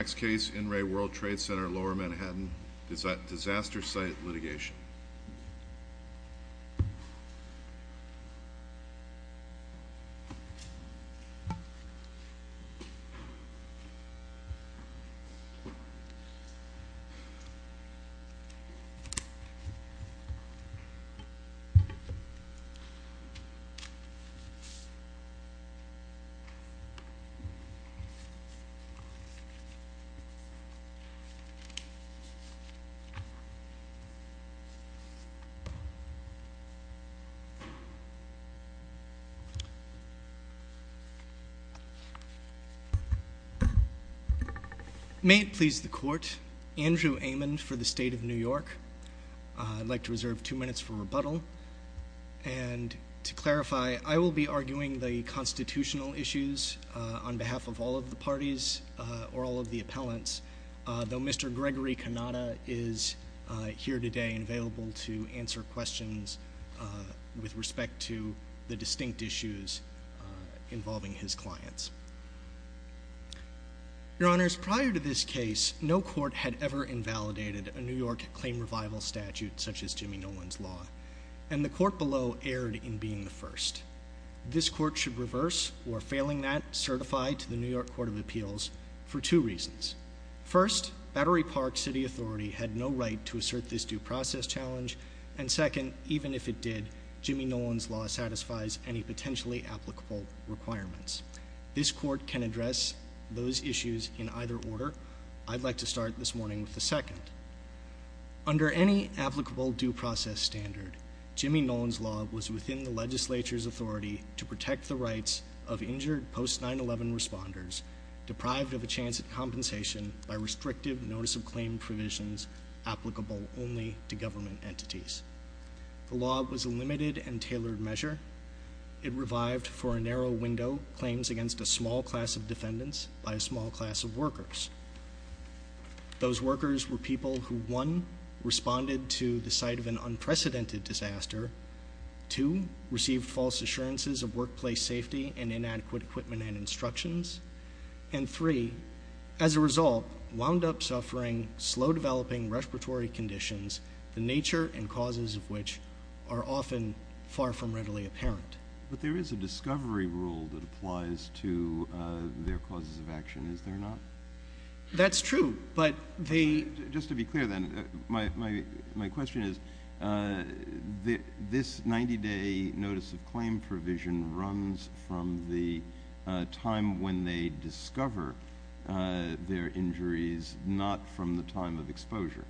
Next case, In Re World Trade Center Lower Manhattan, Disaster Site Litigation. May it please the court, Andrew Amon for the State of New York. I'd like to reserve two minutes for rebuttal. And to clarify, I will be arguing the constitutional issues on behalf of all of the parties or all of the appellants, though Mr. Gregory Cannata is here today and available to answer questions with respect to the distinct issues involving his clients. Your Honors, prior to this case, no court had ever invalidated a New York claim revival statute such as Jimmy Nolan's law, and the court below erred in being the first. This court should reverse or failing that, certify to the New York Court of Appeals for two reasons. First, Battery Park City Authority had no right to assert this due process challenge, and second, even if it did, Jimmy Nolan's law satisfies any potentially applicable requirements. This court can address those issues in either order. I'd like to start this morning with the second. Under any applicable due process standard, Jimmy Nolan's law was within the legislature's authority to protect the rights of injured post-9-11 responders deprived of a chance at compensation by restrictive notice of claim provisions applicable only to government entities. The law was a limited and tailored measure. It revived for a narrow window claims against a small class of defendants by a small class of workers. Those workers were people who, one, responded to the site of an unprecedented disaster, two, received false assurances of workplace safety and inadequate equipment and instructions, and three, as a result, wound up suffering slow-developing respiratory conditions, the nature and causes of which are often far from readily apparent. But there is a discovery rule that applies to their causes of action, is there not? That's true, but they Just to be clear then, my question is, this 90-day notice of claim provision runs from the time when they discover their injuries, not from the time of exposure.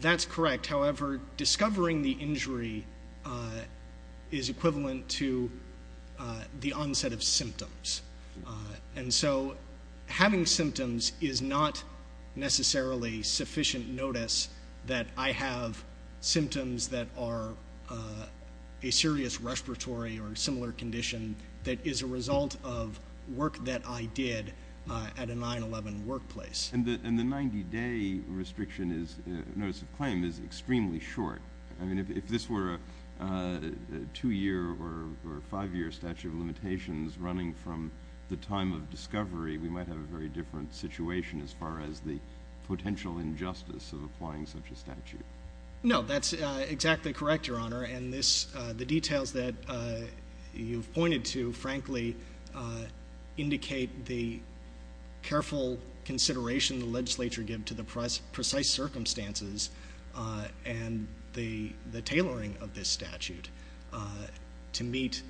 That's correct. However, discovering the injury is equivalent to the onset of symptoms. And so having symptoms is not necessarily sufficient notice that I have symptoms that are a serious respiratory or similar condition that is a result of work that I did at a 9-11 workplace. And the 90-day notice of claim is extremely short. I mean, if this were a 2-year or 5-year statute of limitations running from the time of discovery, we might have a very different situation as far as the potential injustice of applying such a statute. No, that's exactly correct, Your Honor, and the details that you've pointed to, frankly, indicate the careful consideration the legislature gave to the precise circumstances and the tailoring of this statute to meet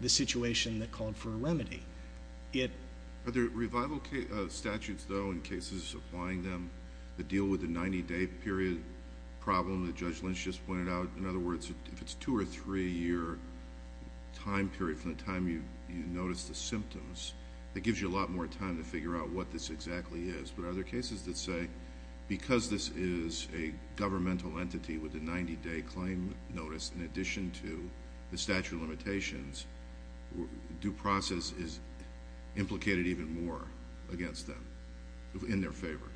the situation that called for a remedy. Are there revival statutes, though, in cases applying them that deal with the 90-day period problem that Judge Lynch just pointed out? In other words, if it's a 2- or 3-year time period from the time you notice the symptoms, that gives you a lot more time to figure out what this exactly is. But are there cases that say because this is a governmental entity with a 90-day claim notice in addition to the statute of limitations, due process is implicated even more against them, in their favor?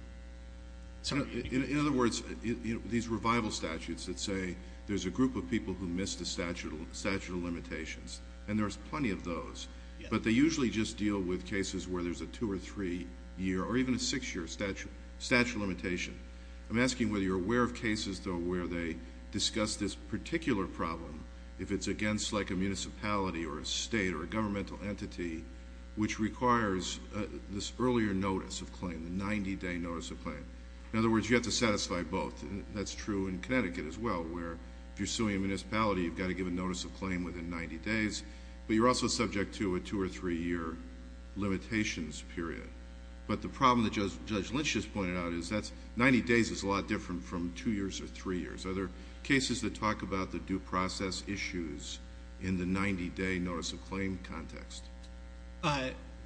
In other words, these revival statutes that say there's a group of people who missed a statute of limitations, and there's plenty of those, but they usually just deal with cases where there's a 2- or 3-year or even a 6-year statute of limitation. I'm asking whether you're aware of cases, though, where they discuss this particular problem if it's against, like, a municipality or a state or a governmental entity which requires this earlier notice of claim, the 90-day notice of claim. In other words, you have to satisfy both, and that's true in Connecticut as well, where if you're suing a municipality, you've got to give a notice of claim within 90 days, but you're also subject to a 2- or 3-year limitations period. But the problem that Judge Lynch just pointed out is that 90 days is a lot different from 2 years or 3 years. Are there cases that talk about the due process issues in the 90-day notice of claim context?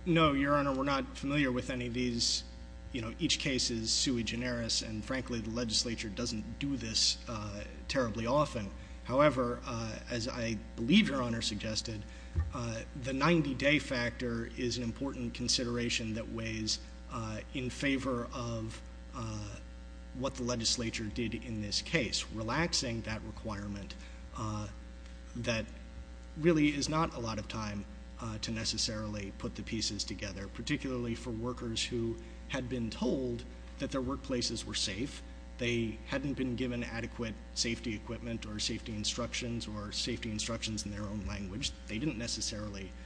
No, Your Honor. We're not familiar with any of these. You know, each case is sui generis, and frankly, the legislature doesn't do this terribly often. However, as I believe Your Honor suggested, the 90-day factor is an important consideration that weighs in favor of what the legislature did in this case, relaxing that requirement that really is not a lot of time to necessarily put the pieces together, particularly for workers who had been told that their workplaces were safe. They hadn't been given adequate safety equipment or safety instructions or safety instructions in their own language. They didn't necessarily –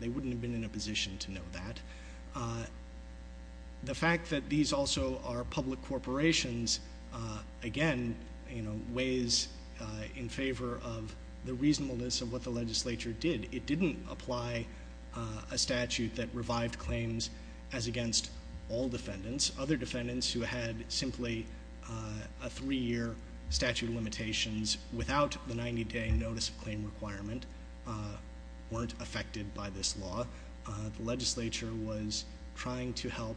they wouldn't have been in a position to know that. The fact that these also are public corporations, again, weighs in favor of the reasonableness of what the legislature did. It didn't apply a statute that revived claims as against all defendants. Other defendants who had simply a 3-year statute of limitations without the 90-day notice of claim requirement weren't affected by this law. The legislature was trying to help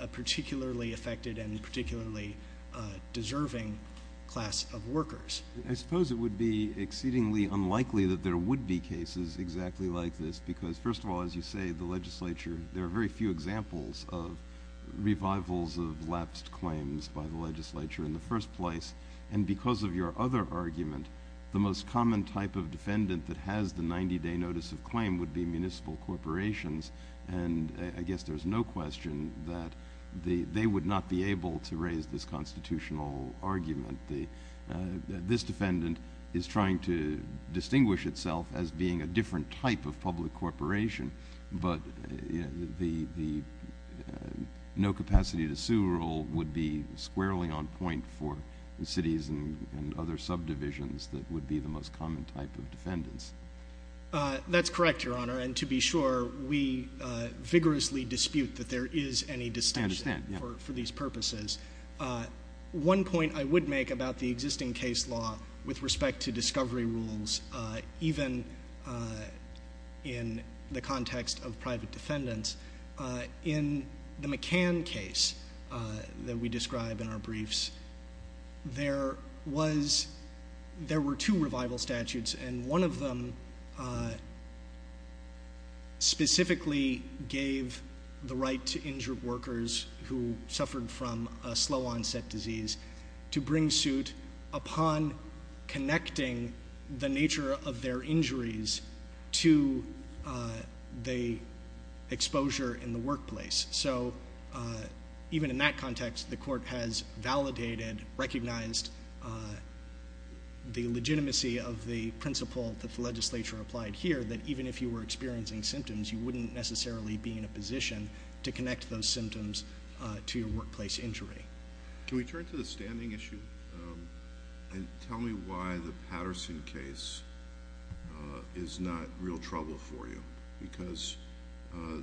a particularly affected and particularly deserving class of workers. I suppose it would be exceedingly unlikely that there would be cases exactly like this because, first of all, as you say, the legislature – there are very few examples of revivals of lapsed claims by the legislature in the first place. And because of your other argument, the most common type of defendant that has the 90-day notice of claim would be municipal corporations. And I guess there's no question that they would not be able to raise this constitutional argument. This defendant is trying to distinguish itself as being a different type of public corporation, but the no-capacity-to-sue rule would be squarely on point for cities and other subdivisions that would be the most common type of defendants. That's correct, Your Honor, and to be sure, we vigorously dispute that there is any distinction for these purposes. One point I would make about the existing case law with respect to discovery rules, even in the context of private defendants, in the McCann case that we describe in our briefs, there were two revival statutes, and one of them specifically gave the right to injured workers who suffered from a slow-onset disease to bring suit upon connecting the nature of their injuries to the exposure in the workplace. So even in that context, the Court has validated, recognized the legitimacy of the principle that the legislature applied here, that even if you were experiencing symptoms, you wouldn't necessarily be in a position to connect those symptoms to your workplace injury. Can we turn to the standing issue and tell me why the Patterson case is not real trouble for you? Because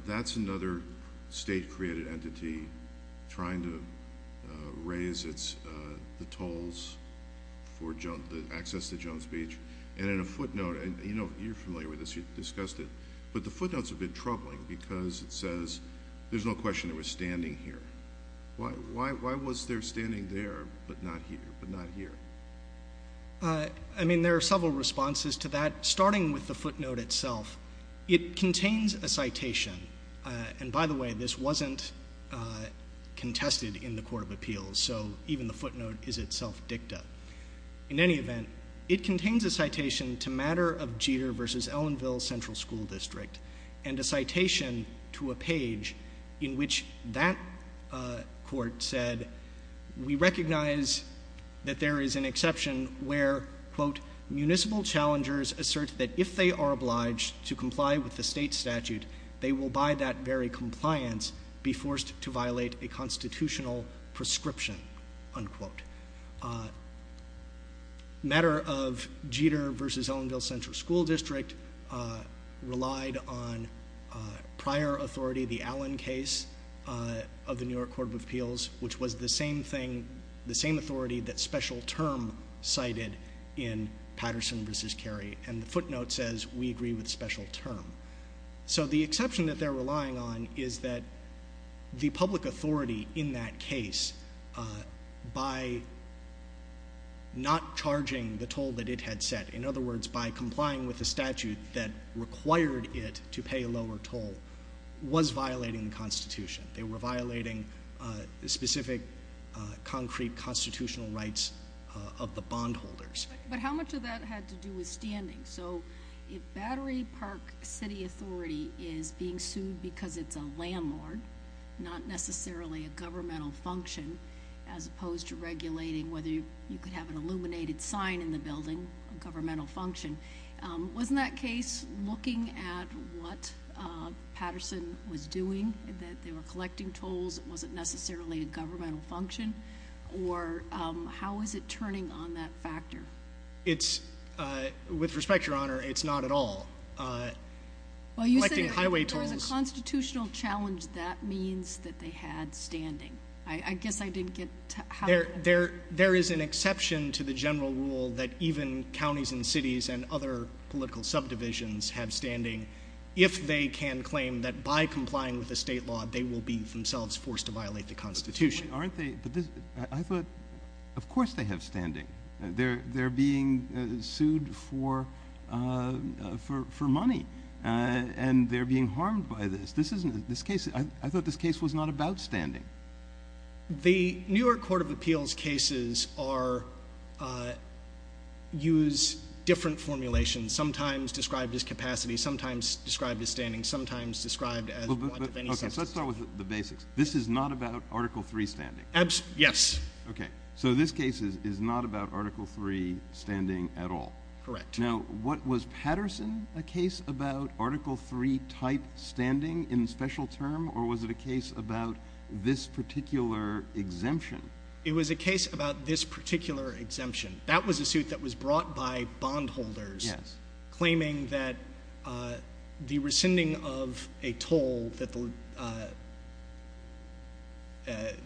that's another state-created entity trying to raise the tolls for access to Jones Beach, and in a footnote... I mean, there are several responses to that, starting with the footnote itself. It contains a citation, and by the way, this wasn't contested in the Court of Appeals, so even the footnote is itself dicta. In any event, it contains a citation to matter of Jeter v. Ellenville Central School District, and a citation to a page in which that court said, that we recognize that there is an exception where, quote, municipal challengers assert that if they are obliged to comply with the state statute, they will by that very compliance be forced to violate a constitutional prescription, unquote. Matter of Jeter v. Ellenville Central School District relied on prior authority, the Allen case of the New York Court of Appeals, which was the same thing, the same authority that special term cited in Patterson v. Cary. And the footnote says, we agree with special term. So, the exception that they're relying on is that the public authority in that case, by not charging the toll that it had set, in other words, by complying with the statute that required it to pay a lower toll, was violating the Constitution. They were violating specific concrete constitutional rights of the bondholders. But how much of that had to do with standing? So, if Battery Park City Authority is being sued because it's a landlord, not necessarily a governmental function, as opposed to regulating whether you could have an illuminated sign in the building, a governmental function, wasn't that case looking at what Patterson was doing, that they were collecting tolls, it wasn't necessarily a governmental function, or how is it turning on that factor? It's, with respect, Your Honor, it's not at all. Well, you said if there was a constitutional challenge, that means that they had standing. There is an exception to the general rule that even counties and cities and other political subdivisions have standing if they can claim that by complying with the state law, they will be themselves forced to violate the Constitution. But aren't they, I thought, of course they have standing. They're being sued for money, and they're being harmed by this. This case, I thought this case was not about standing. The New York Court of Appeals cases use different formulations, sometimes described as capacity, sometimes described as standing, sometimes described as one of any substance. Okay, so let's start with the basics. This is not about Article III standing? Yes. Okay, so this case is not about Article III standing at all? Correct. Now, was Patterson a case about Article III type standing in special term, or was it a case about this particular exemption? It was a case about this particular exemption. That was a suit that was brought by bondholders claiming that the rescinding of a toll that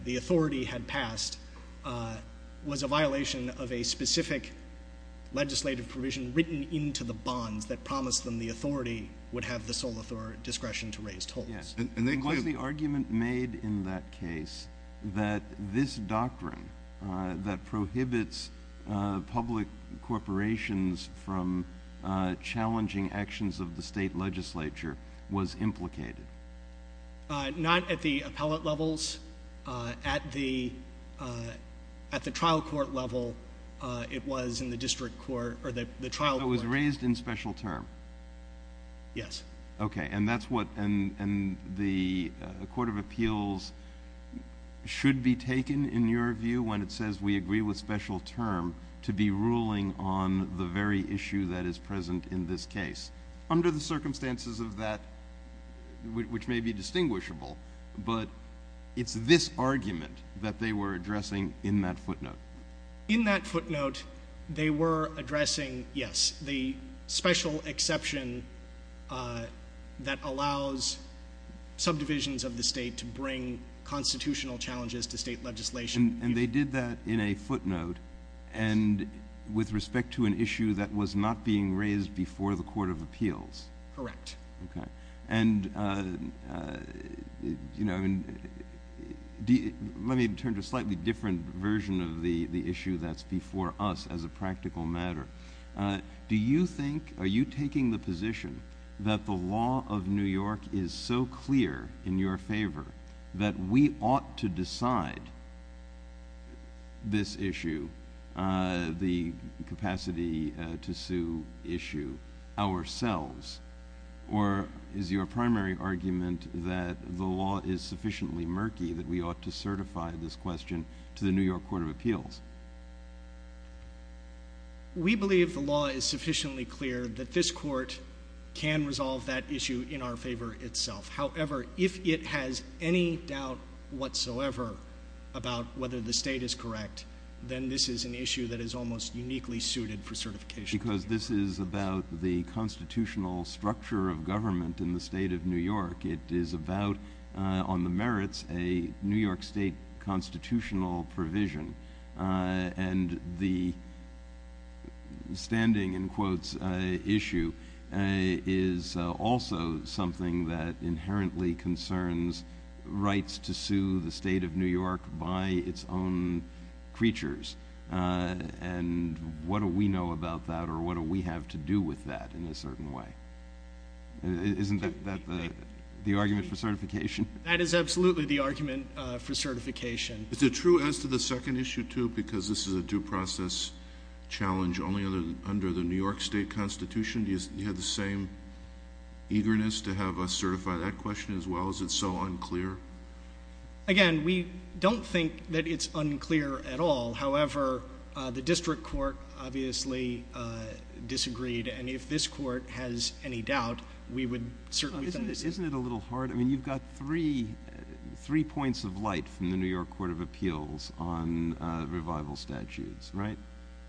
the authority had passed was a violation of a specific legislative provision written into the bonds that promised them the authority would have the sole discretion to raise tolls. Was the argument made in that case that this doctrine that prohibits public corporations from challenging actions of the state legislature was implicated? Not at the appellate levels. At the trial court level, it was in the district court, or the trial court. So it was raised in special term? Yes. Okay, and the Court of Appeals should be taken, in your view, when it says we agree with special term to be ruling on the very issue that is present in this case. Under the circumstances of that, which may be distinguishable, but it's this argument that they were addressing in that footnote. In that footnote, they were addressing, yes, the special exception that allows subdivisions of the state to bring constitutional challenges to state legislation. And they did that in a footnote, and with respect to an issue that was not being raised before the Court of Appeals? Correct. Okay, and let me turn to a slightly different version of the issue that's before us as a practical matter. Do you think, are you taking the position that the law of New York is so clear in your favor that we ought to decide this issue, the capacity to sue issue, ourselves? Or is your primary argument that the law is sufficiently murky that we ought to certify this question to the New York Court of Appeals? We believe the law is sufficiently clear that this court can resolve that issue in our favor itself. However, if it has any doubt whatsoever about whether the state is correct, then this is an issue that is almost uniquely suited for certification. Because this is about the constitutional structure of government in the state of New York. It is about, on the merits, a New York State constitutional provision. And the standing, in quotes, issue is also something that inherently concerns rights to sue the state of New York by its own creatures. And what do we know about that, or what do we have to do with that in a certain way? Isn't that the argument for certification? That is absolutely the argument for certification. Is it true as to the second issue, too, because this is a due process challenge only under the New York State Constitution? Do you have the same eagerness to have us certify that question, as well? Is it so unclear? Again, we don't think that it's unclear at all. However, the district court obviously disagreed. And if this court has any doubt, we would certainly send this in. Isn't it a little hard? I mean, you've got three points of light from the New York Court of Appeals on revival statutes, right?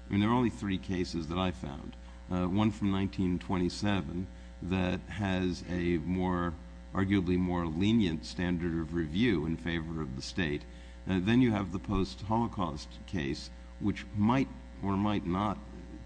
I mean, there are only three cases that I found. One from 1927 that has an arguably more lenient standard of review in favor of the state. Then you have the post-Holocaust case, which might or might not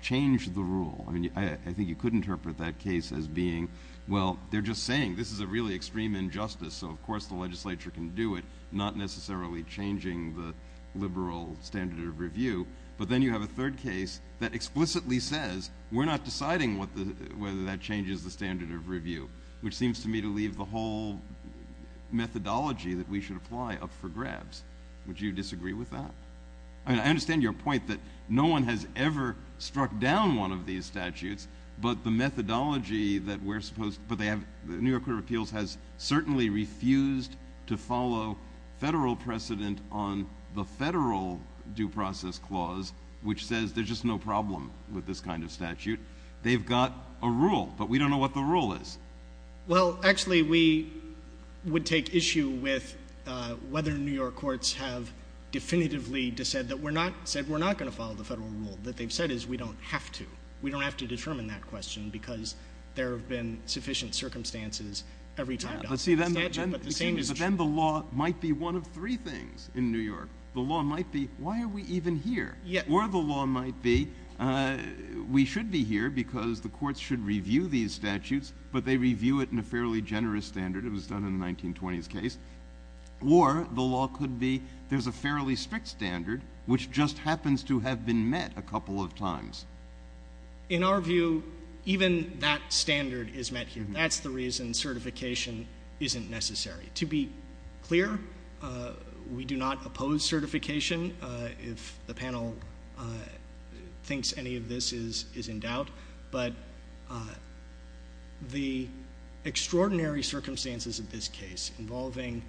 change the rule. I mean, I think you could interpret that case as being, well, they're just saying this is a really extreme injustice, so of course the legislature can do it, not necessarily changing the liberal standard of review. But then you have a third case that explicitly says we're not deciding whether that changes the standard of review, which seems to me to leave the whole methodology that we should apply up for grabs. Would you disagree with that? I mean, I understand your point that no one has ever struck down one of these statutes, but the methodology that we're supposed to, but they have, the New York Court of Appeals has certainly refused to follow federal precedent on the federal due process clause, which says there's just no problem with this kind of statute. They've got a rule, but we don't know what the rule is. Well, actually, we would take issue with whether New York courts have definitively said that we're not going to follow the federal rule. What they've said is we don't have to. We don't have to determine that question because there have been sufficient circumstances every time. But then the law might be one of three things in New York. The law might be, why are we even here? Or the law might be we should be here because the courts should review these statutes, but they review it in a fairly generous standard. It was done in the 1920s case. Or the law could be there's a fairly strict standard which just happens to have been met a couple of times. In our view, even that standard is met here. That's the reason certification isn't necessary. To be clear, we do not oppose certification if the panel thinks any of this is in doubt. But the extraordinary circumstances of this case involving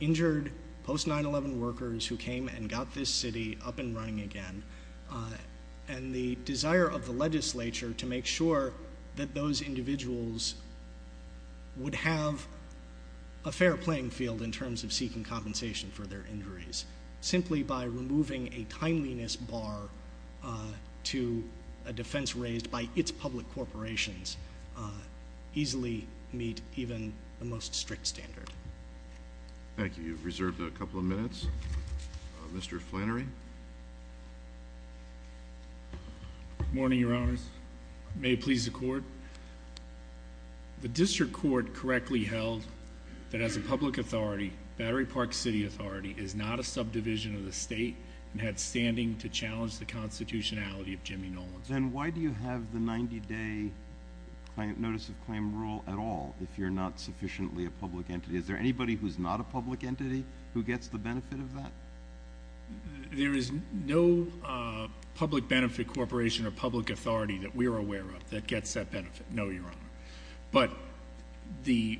injured post-9-11 workers who came and got this city up and running again and the desire of the legislature to make sure that those individuals would have a fair playing field in terms of seeking compensation for their injuries, simply by removing a timeliness bar to a defense raised by its public corporations, easily meet even the most strict standard. Thank you. You've reserved a couple of minutes. Mr. Flannery? Good morning, Your Honors. May it please the Court. The district court correctly held that as a public authority, Battery Park City Authority is not a subdivision of the state and had standing to challenge the constitutionality of Jimmy Nolan. Then why do you have the 90-day notice of claim rule at all if you're not sufficiently a public entity? Is there anybody who's not a public entity who gets the benefit of that? There is no public benefit corporation or public authority that we are aware of that gets that benefit, no, Your Honor. But the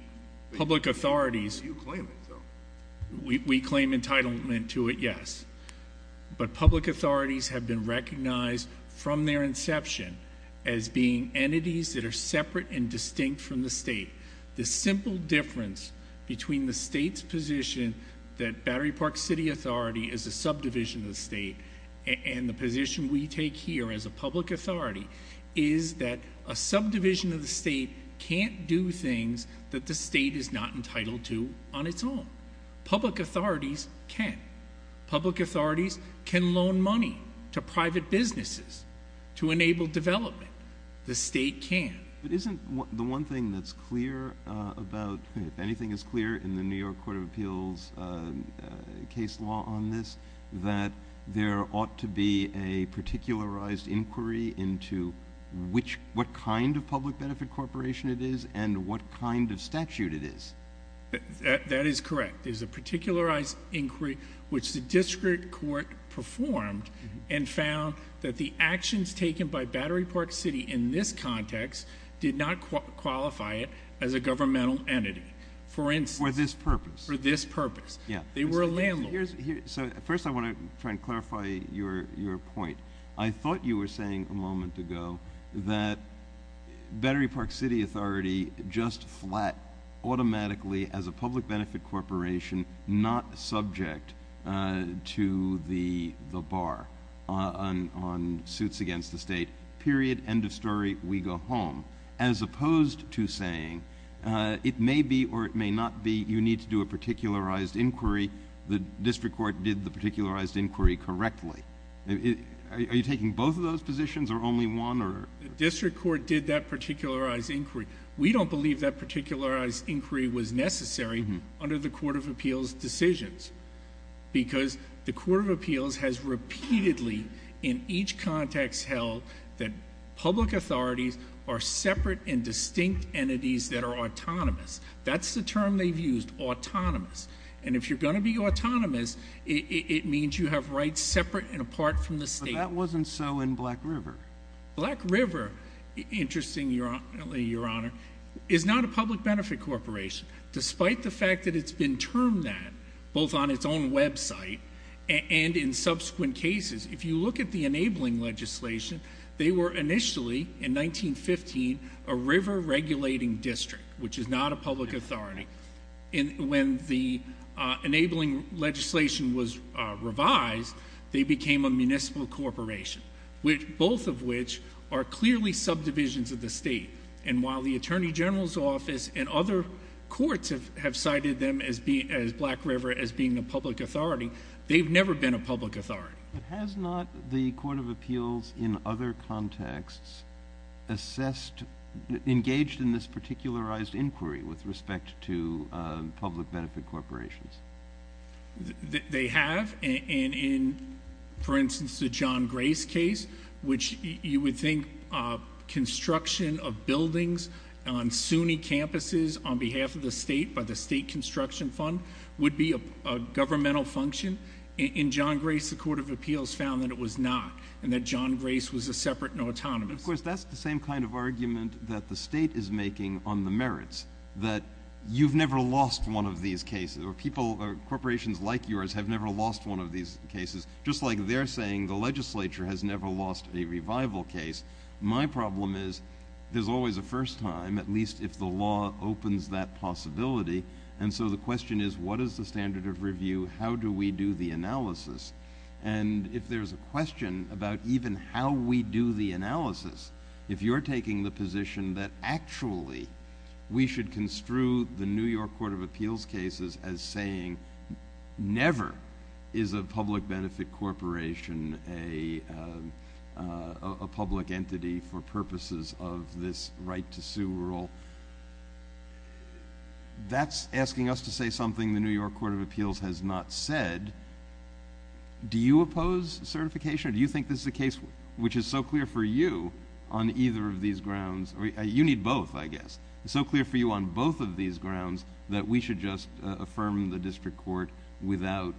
public authorities— You claim it, though. We claim entitlement to it, yes. But public authorities have been recognized from their inception as being entities that are separate and distinct from the state. The simple difference between the state's position that Battery Park City Authority is a subdivision of the state and the position we take here as a public authority is that a subdivision of the state can't do things that the state is not entitled to on its own. Public authorities can. Public authorities can loan money to private businesses to enable development. The state can. But isn't the one thing that's clear about— if anything is clear in the New York Court of Appeals case law on this, that there ought to be a particularized inquiry into what kind of public benefit corporation it is and what kind of statute it is? That is correct. There's a particularized inquiry which the district court performed and found that the actions taken by Battery Park City in this context did not qualify it as a governmental entity, for instance. For this purpose. For this purpose. Yeah. They were a landlord. So first I want to try and clarify your point. I thought you were saying a moment ago that Battery Park City Authority just flat automatically as a public benefit corporation not subject to the bar on suits against the state. Period. End of story. We go home. As opposed to saying it may be or it may not be. You need to do a particularized inquiry. The district court did the particularized inquiry correctly. Are you taking both of those positions or only one? The district court did that particularized inquiry. We don't believe that particularized inquiry was necessary under the Court of Appeals decisions because the Court of Appeals has repeatedly, in each context held, that public authorities are separate and distinct entities that are autonomous. That's the term they've used, autonomous. And if you're going to be autonomous, it means you have rights separate and apart from the state. But that wasn't so in Black River. Black River, interestingly, Your Honor, is not a public benefit corporation, despite the fact that it's been termed that both on its own website and in subsequent cases. If you look at the enabling legislation, they were initially, in 1915, a river regulating district, which is not a public authority. When the enabling legislation was revised, they became a municipal corporation, both of which are clearly subdivisions of the state. And while the Attorney General's Office and other courts have cited Black River as being a public authority, they've never been a public authority. But has not the Court of Appeals, in other contexts, assessed, engaged in this particularized inquiry with respect to public benefit corporations? They have, and in, for instance, the John Grace case, which you would think construction of buildings on SUNY campuses on behalf of the state by the State Construction Fund would be a governmental function. In John Grace, the Court of Appeals found that it was not, and that John Grace was a separate and autonomous. Of course, that's the same kind of argument that the state is making on the merits, that you've never lost one of these cases, or corporations like yours have never lost one of these cases. Just like they're saying the legislature has never lost a revival case, my problem is there's always a first time, at least if the law opens that possibility. And so the question is, what is the standard of review? How do we do the analysis? And if there's a question about even how we do the analysis, if you're taking the position that actually we should construe the New York Court of Appeals cases as saying never is a public benefit corporation a public entity for purposes of this right to sue rule, that's asking us to say something the New York Court of Appeals has not said. Do you oppose certification? Do you think this is a case which is so clear for you on either of these grounds? You need both, I guess. It's so clear for you on both of these grounds that we should just affirm the district court without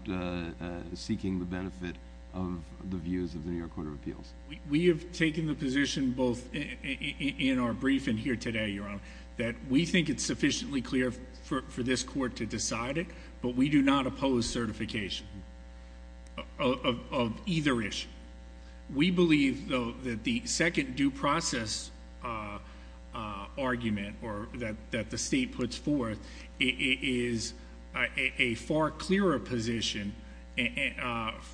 seeking the benefit of the views of the New York Court of Appeals. We have taken the position both in our briefing here today, Your Honor, that we think it's sufficiently clear for this court to decide it, but we do not oppose certification of either issue. We believe, though, that the second due process argument that the state puts forth is a far clearer position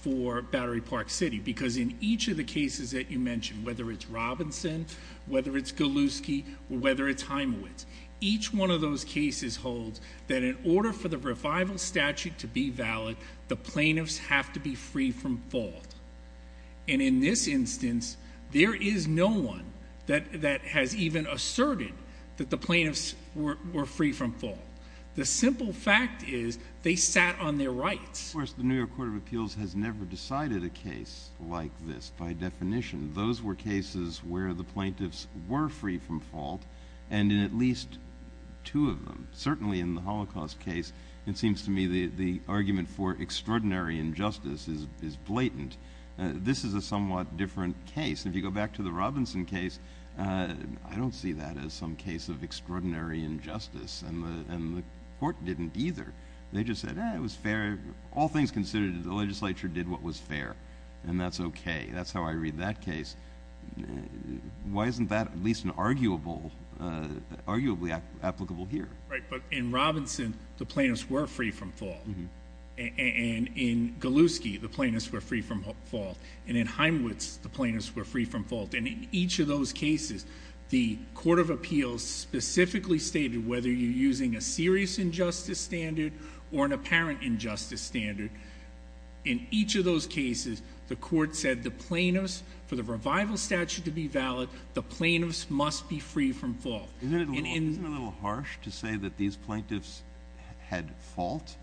for Battery Park City because in each of the cases that you mentioned, whether it's Robinson, whether it's Galuski, or whether it's Heimowitz, each one of those cases holds that in order for the revival statute to be valid, the plaintiffs have to be free from fault. And in this instance, there is no one that has even asserted that the plaintiffs were free from fault. The simple fact is they sat on their rights. Of course, the New York Court of Appeals has never decided a case like this by definition. Those were cases where the plaintiffs were free from fault, and in at least two of them. Certainly in the Holocaust case, it seems to me the argument for extraordinary injustice is blatant. This is a somewhat different case. If you go back to the Robinson case, I don't see that as some case of extraordinary injustice, and the court didn't either. They just said, eh, it was fair. All things considered, the legislature did what was fair, and that's okay. That's how I read that case. Why isn't that at least arguably applicable here? Right, but in Robinson, the plaintiffs were free from fault. And in Galuski, the plaintiffs were free from fault. In each of those cases, the Court of Appeals specifically stated whether you're using a serious injustice standard or an apparent injustice standard. In each of those cases, the court said the plaintiffs, for the revival statute to be valid, the plaintiffs must be free from fault. Isn't it a little harsh to say that these plaintiffs had fault?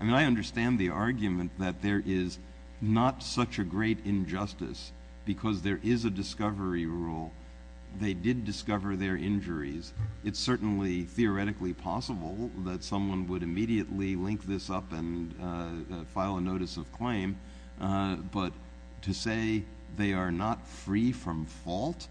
I mean, I understand the argument that there is not such a great injustice because there is a discovery rule. They did discover their injuries. It's certainly theoretically possible that someone would immediately link this up and file a notice of claim. But to say they are not free from fault?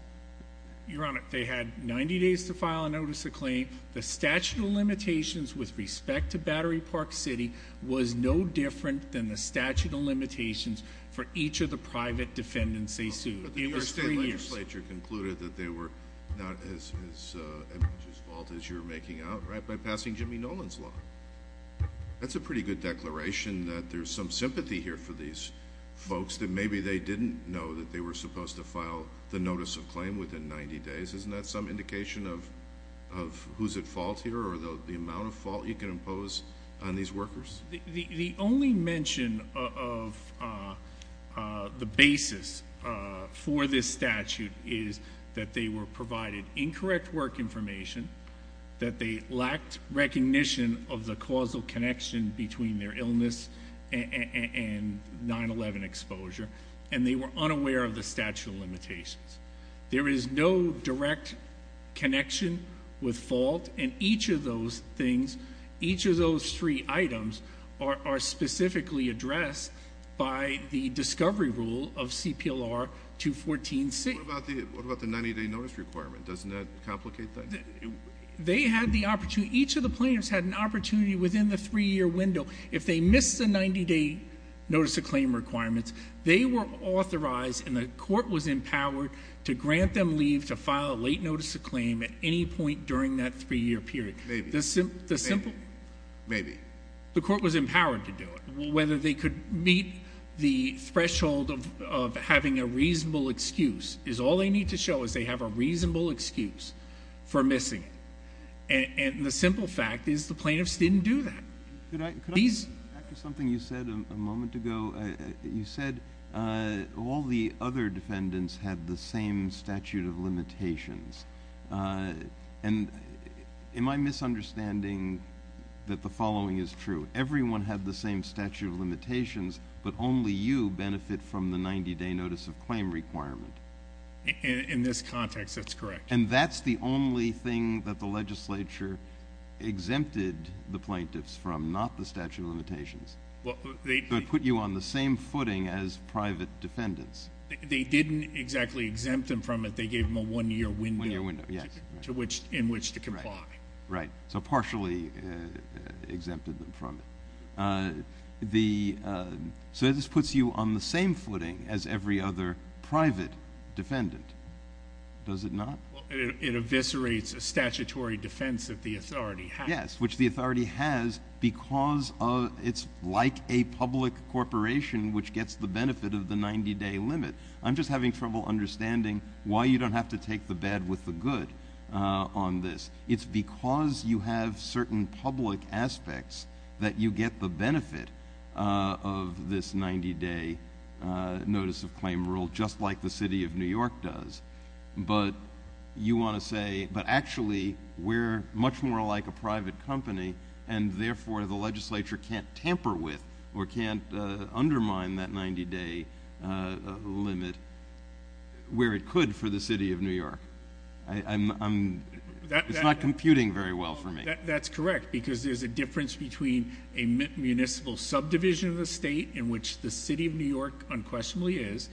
Your Honor, they had 90 days to file a notice of claim. The statute of limitations with respect to Battery Park City was no different than the statute of limitations for each of the private defendants they sued. It was three years. But the New York State Legislature concluded that they were not as at fault as you're making out by passing Jimmy Nolan's law. That's a pretty good declaration that there's some sympathy here for these folks that maybe they didn't know that they were supposed to file the notice of claim within 90 days. Isn't that some indication of who's at fault here or the amount of fault you can impose on these workers? The only mention of the basis for this statute is that they were provided incorrect work information, that they lacked recognition of the causal connection between their illness and 9-11 exposure, and they were unaware of the statute of limitations. There is no direct connection with fault, and each of those things, each of those three items, are specifically addressed by the discovery rule of CPLR 214C. What about the 90-day notice requirement? Doesn't that complicate things? They had the opportunity. Each of the plaintiffs had an opportunity within the three-year window. If they missed the 90-day notice of claim requirements, they were authorized and the court was empowered to grant them leave to file a late notice of claim at any point during that three-year period. Maybe. Maybe. The court was empowered to do it. Whether they could meet the threshold of having a reasonable excuse is all they need to show, is they have a reasonable excuse for missing it. And the simple fact is the plaintiffs didn't do that. Could I go back to something you said a moment ago? You said all the other defendants had the same statute of limitations. Am I misunderstanding that the following is true? Everyone had the same statute of limitations, but only you benefit from the 90-day notice of claim requirement? In this context, that's correct. And that's the only thing that the legislature exempted the plaintiffs from, not the statute of limitations? It put you on the same footing as private defendants. They didn't exactly exempt them from it. They gave them a one-year window in which to comply. Right. So partially exempted them from it. So this puts you on the same footing as every other private defendant, does it not? It eviscerates a statutory defense that the authority has. Which the authority has because it's like a public corporation which gets the benefit of the 90-day limit. I'm just having trouble understanding why you don't have to take the bad with the good on this. It's because you have certain public aspects that you get the benefit of this 90-day notice of claim rule, just like the city of New York does. But you want to say, but actually we're much more like a private company, and therefore the legislature can't tamper with or can't undermine that 90-day limit where it could for the city of New York. It's not computing very well for me. That's correct because there's a difference between a municipal subdivision of the state, in which the city of New York unquestionably is,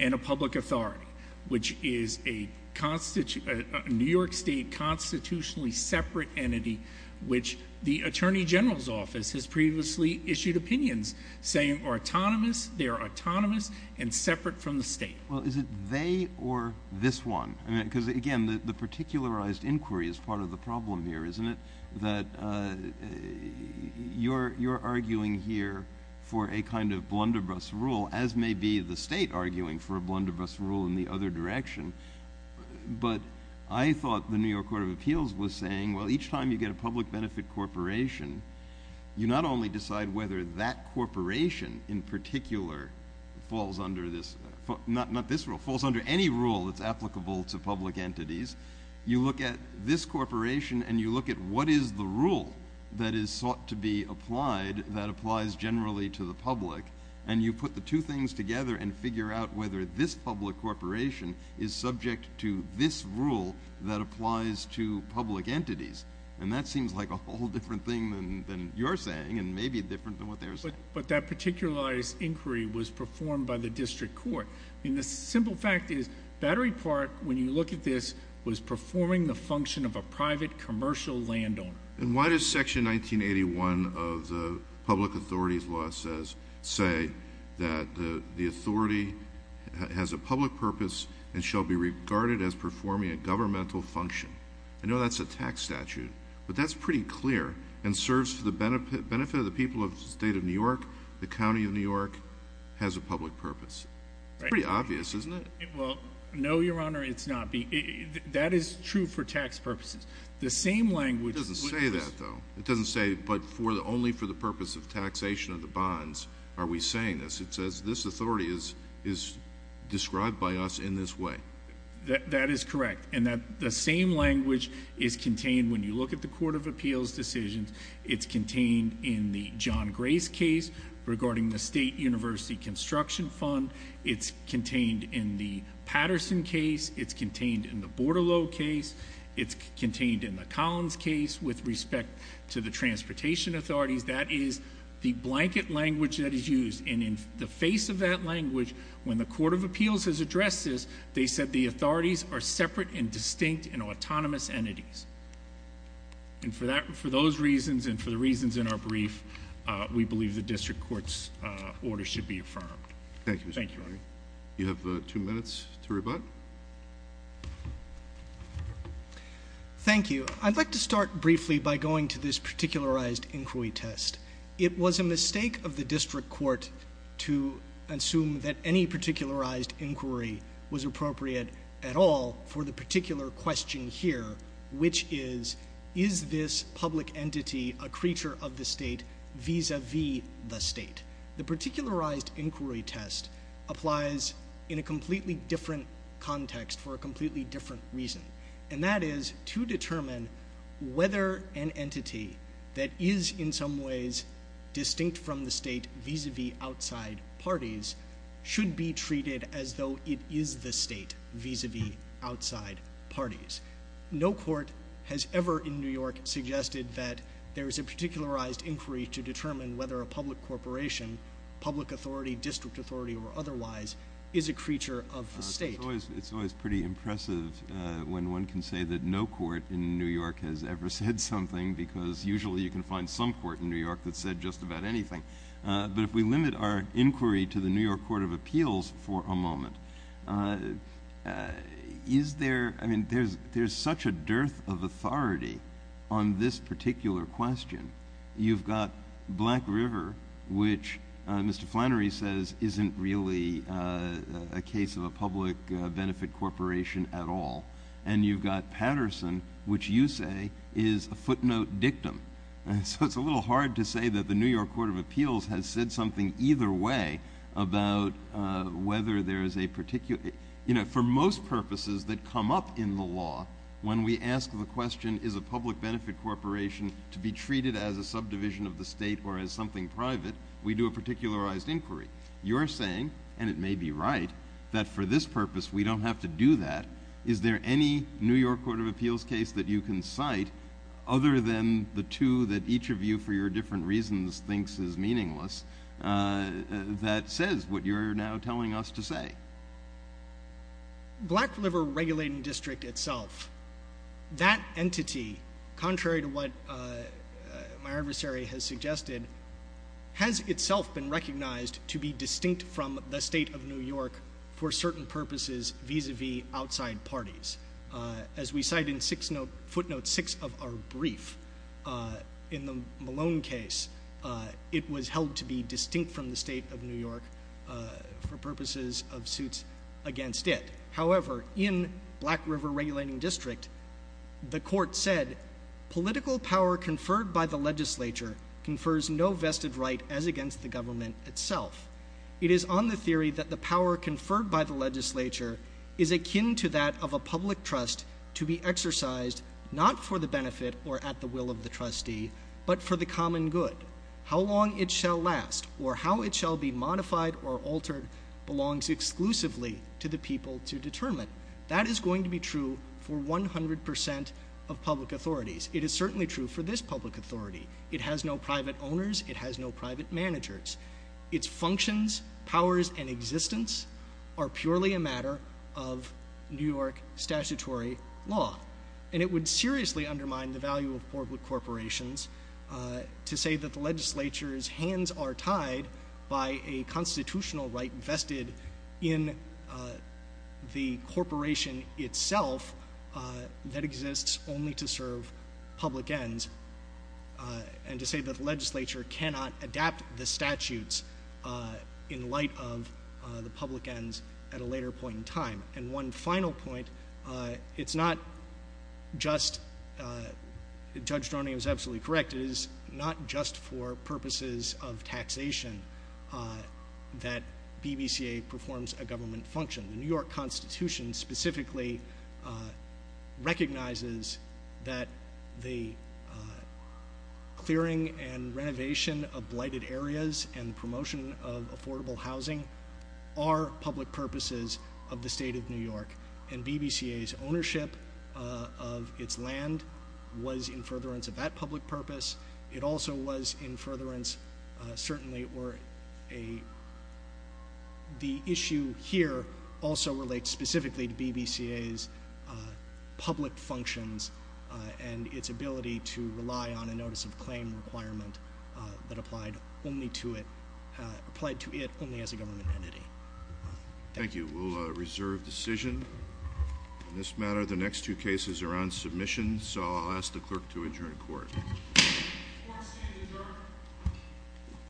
and a public authority, which is a New York State constitutionally separate entity, which the Attorney General's Office has previously issued opinions saying are autonomous, they are autonomous, and separate from the state. Well, is it they or this one? Because, again, the particularized inquiry is part of the problem here, isn't it? That you're arguing here for a kind of blunderbuss rule, as may be the state arguing for a blunderbuss rule in the other direction. But I thought the New York Court of Appeals was saying, well, each time you get a public benefit corporation, you not only decide whether that corporation in particular falls under this, not this rule, falls under any rule that's applicable to public entities, you look at this corporation and you look at what is the rule that is sought to be applied that applies generally to the public, and you put the two things together and figure out whether this public corporation is subject to this rule that applies to public entities. And that seems like a whole different thing than you're saying and may be different than what they're saying. But that particularized inquiry was performed by the district court. The simple fact is Battery Park, when you look at this, was performing the function of a private commercial landowner. And why does Section 1981 of the public authorities law say that the authority has a public purpose and shall be regarded as performing a governmental function? I know that's a tax statute, but that's pretty clear and serves for the benefit of the people of the state of New York, the county of New York, has a public purpose. It's pretty obvious, isn't it? Well, no, Your Honor, it's not. That is true for tax purposes. It doesn't say that, though. It doesn't say, but only for the purpose of taxation of the bonds are we saying this. It says this authority is described by us in this way. That is correct. And the same language is contained when you look at the Court of Appeals decisions. It's contained in the John Grace case regarding the State University Construction Fund. It's contained in the Patterson case. It's contained in the Bortolo case. It's contained in the Collins case with respect to the transportation authorities. That is the blanket language that is used. And in the face of that language, when the Court of Appeals has addressed this, they said the authorities are separate and distinct and autonomous entities. And for those reasons and for the reasons in our brief, we believe the district court's order should be affirmed. Thank you. You have two minutes to rebut. Thank you. I'd like to start briefly by going to this particularized inquiry test. It was a mistake of the district court to assume that any particularized inquiry was appropriate at all for the particular question here, which is, is this public entity a creature of the state vis-a-vis the state? The particularized inquiry test applies in a completely different context for a completely different reason. And that is to determine whether an entity that is in some ways distinct from the state vis-a-vis outside parties should be treated as though it is the state vis-a-vis outside parties. No court has ever in New York suggested that there is a particularized inquiry to determine whether a public corporation, public authority, district authority, or otherwise, is a creature of the state. It's always pretty impressive when one can say that no court in New York has ever said something because usually you can find some court in New York that's said just about anything. But if we limit our inquiry to the New York Court of Appeals for a moment, is there, I mean, there's such a dearth of authority on this particular question. You've got Black River, which Mr. Flannery says isn't really a case of a public benefit corporation at all. And you've got Patterson, which you say is a footnote dictum. So it's a little hard to say that the New York Court of Appeals has said something either way about whether there is a particular. You know, for most purposes that come up in the law, when we ask the question, is a public benefit corporation to be treated as a subdivision of the state or as something private, we do a particularized inquiry. You're saying, and it may be right, that for this purpose we don't have to do that. Is there any New York Court of Appeals case that you can cite other than the two that each of you, for your different reasons, thinks is meaningless, that says what you're now telling us to say? Black River Regulating District itself, that entity, contrary to what my adversary has suggested, has itself been recognized to be distinct from the state of New York for certain purposes vis-à-vis outside parties. As we cite in footnote six of our brief in the Malone case, it was held to be distinct from the state of New York for purposes of suits against it. However, in Black River Regulating District, the court said, political power conferred by the legislature confers no vested right as against the government itself. It is on the theory that the power conferred by the legislature is akin to that of a public trust to be exercised not for the benefit or at the will of the trustee, but for the common good. How long it shall last or how it shall be modified or altered belongs exclusively to the people to determine. That is going to be true for 100% of public authorities. It is certainly true for this public authority. It has no private owners. It has no private managers. Its functions, powers, and existence are purely a matter of New York statutory law. And it would seriously undermine the value of corporate corporations to say that the legislature's hands are tied by a constitutional right vested in the corporation itself that exists only to serve public ends and to say that the legislature cannot adapt the statutes in light of the public ends at a later point in time. And one final point, it's not just, Judge Droning is absolutely correct, it is not just for purposes of taxation that BBCA performs a government function. The New York Constitution specifically recognizes that the clearing and renovation of blighted areas and promotion of affordable housing are public purposes of the state of New York. And BBCA's ownership of its land was in furtherance of that public purpose. It also was in furtherance, certainly, where the issue here also relates specifically to BBCA's public functions and its ability to rely on a notice of claim requirement that applied to it only as a government entity. Thank you. We'll reserve decision on this matter. The next two cases are on submission, so I'll ask the clerk to adjourn court. Court is adjourned.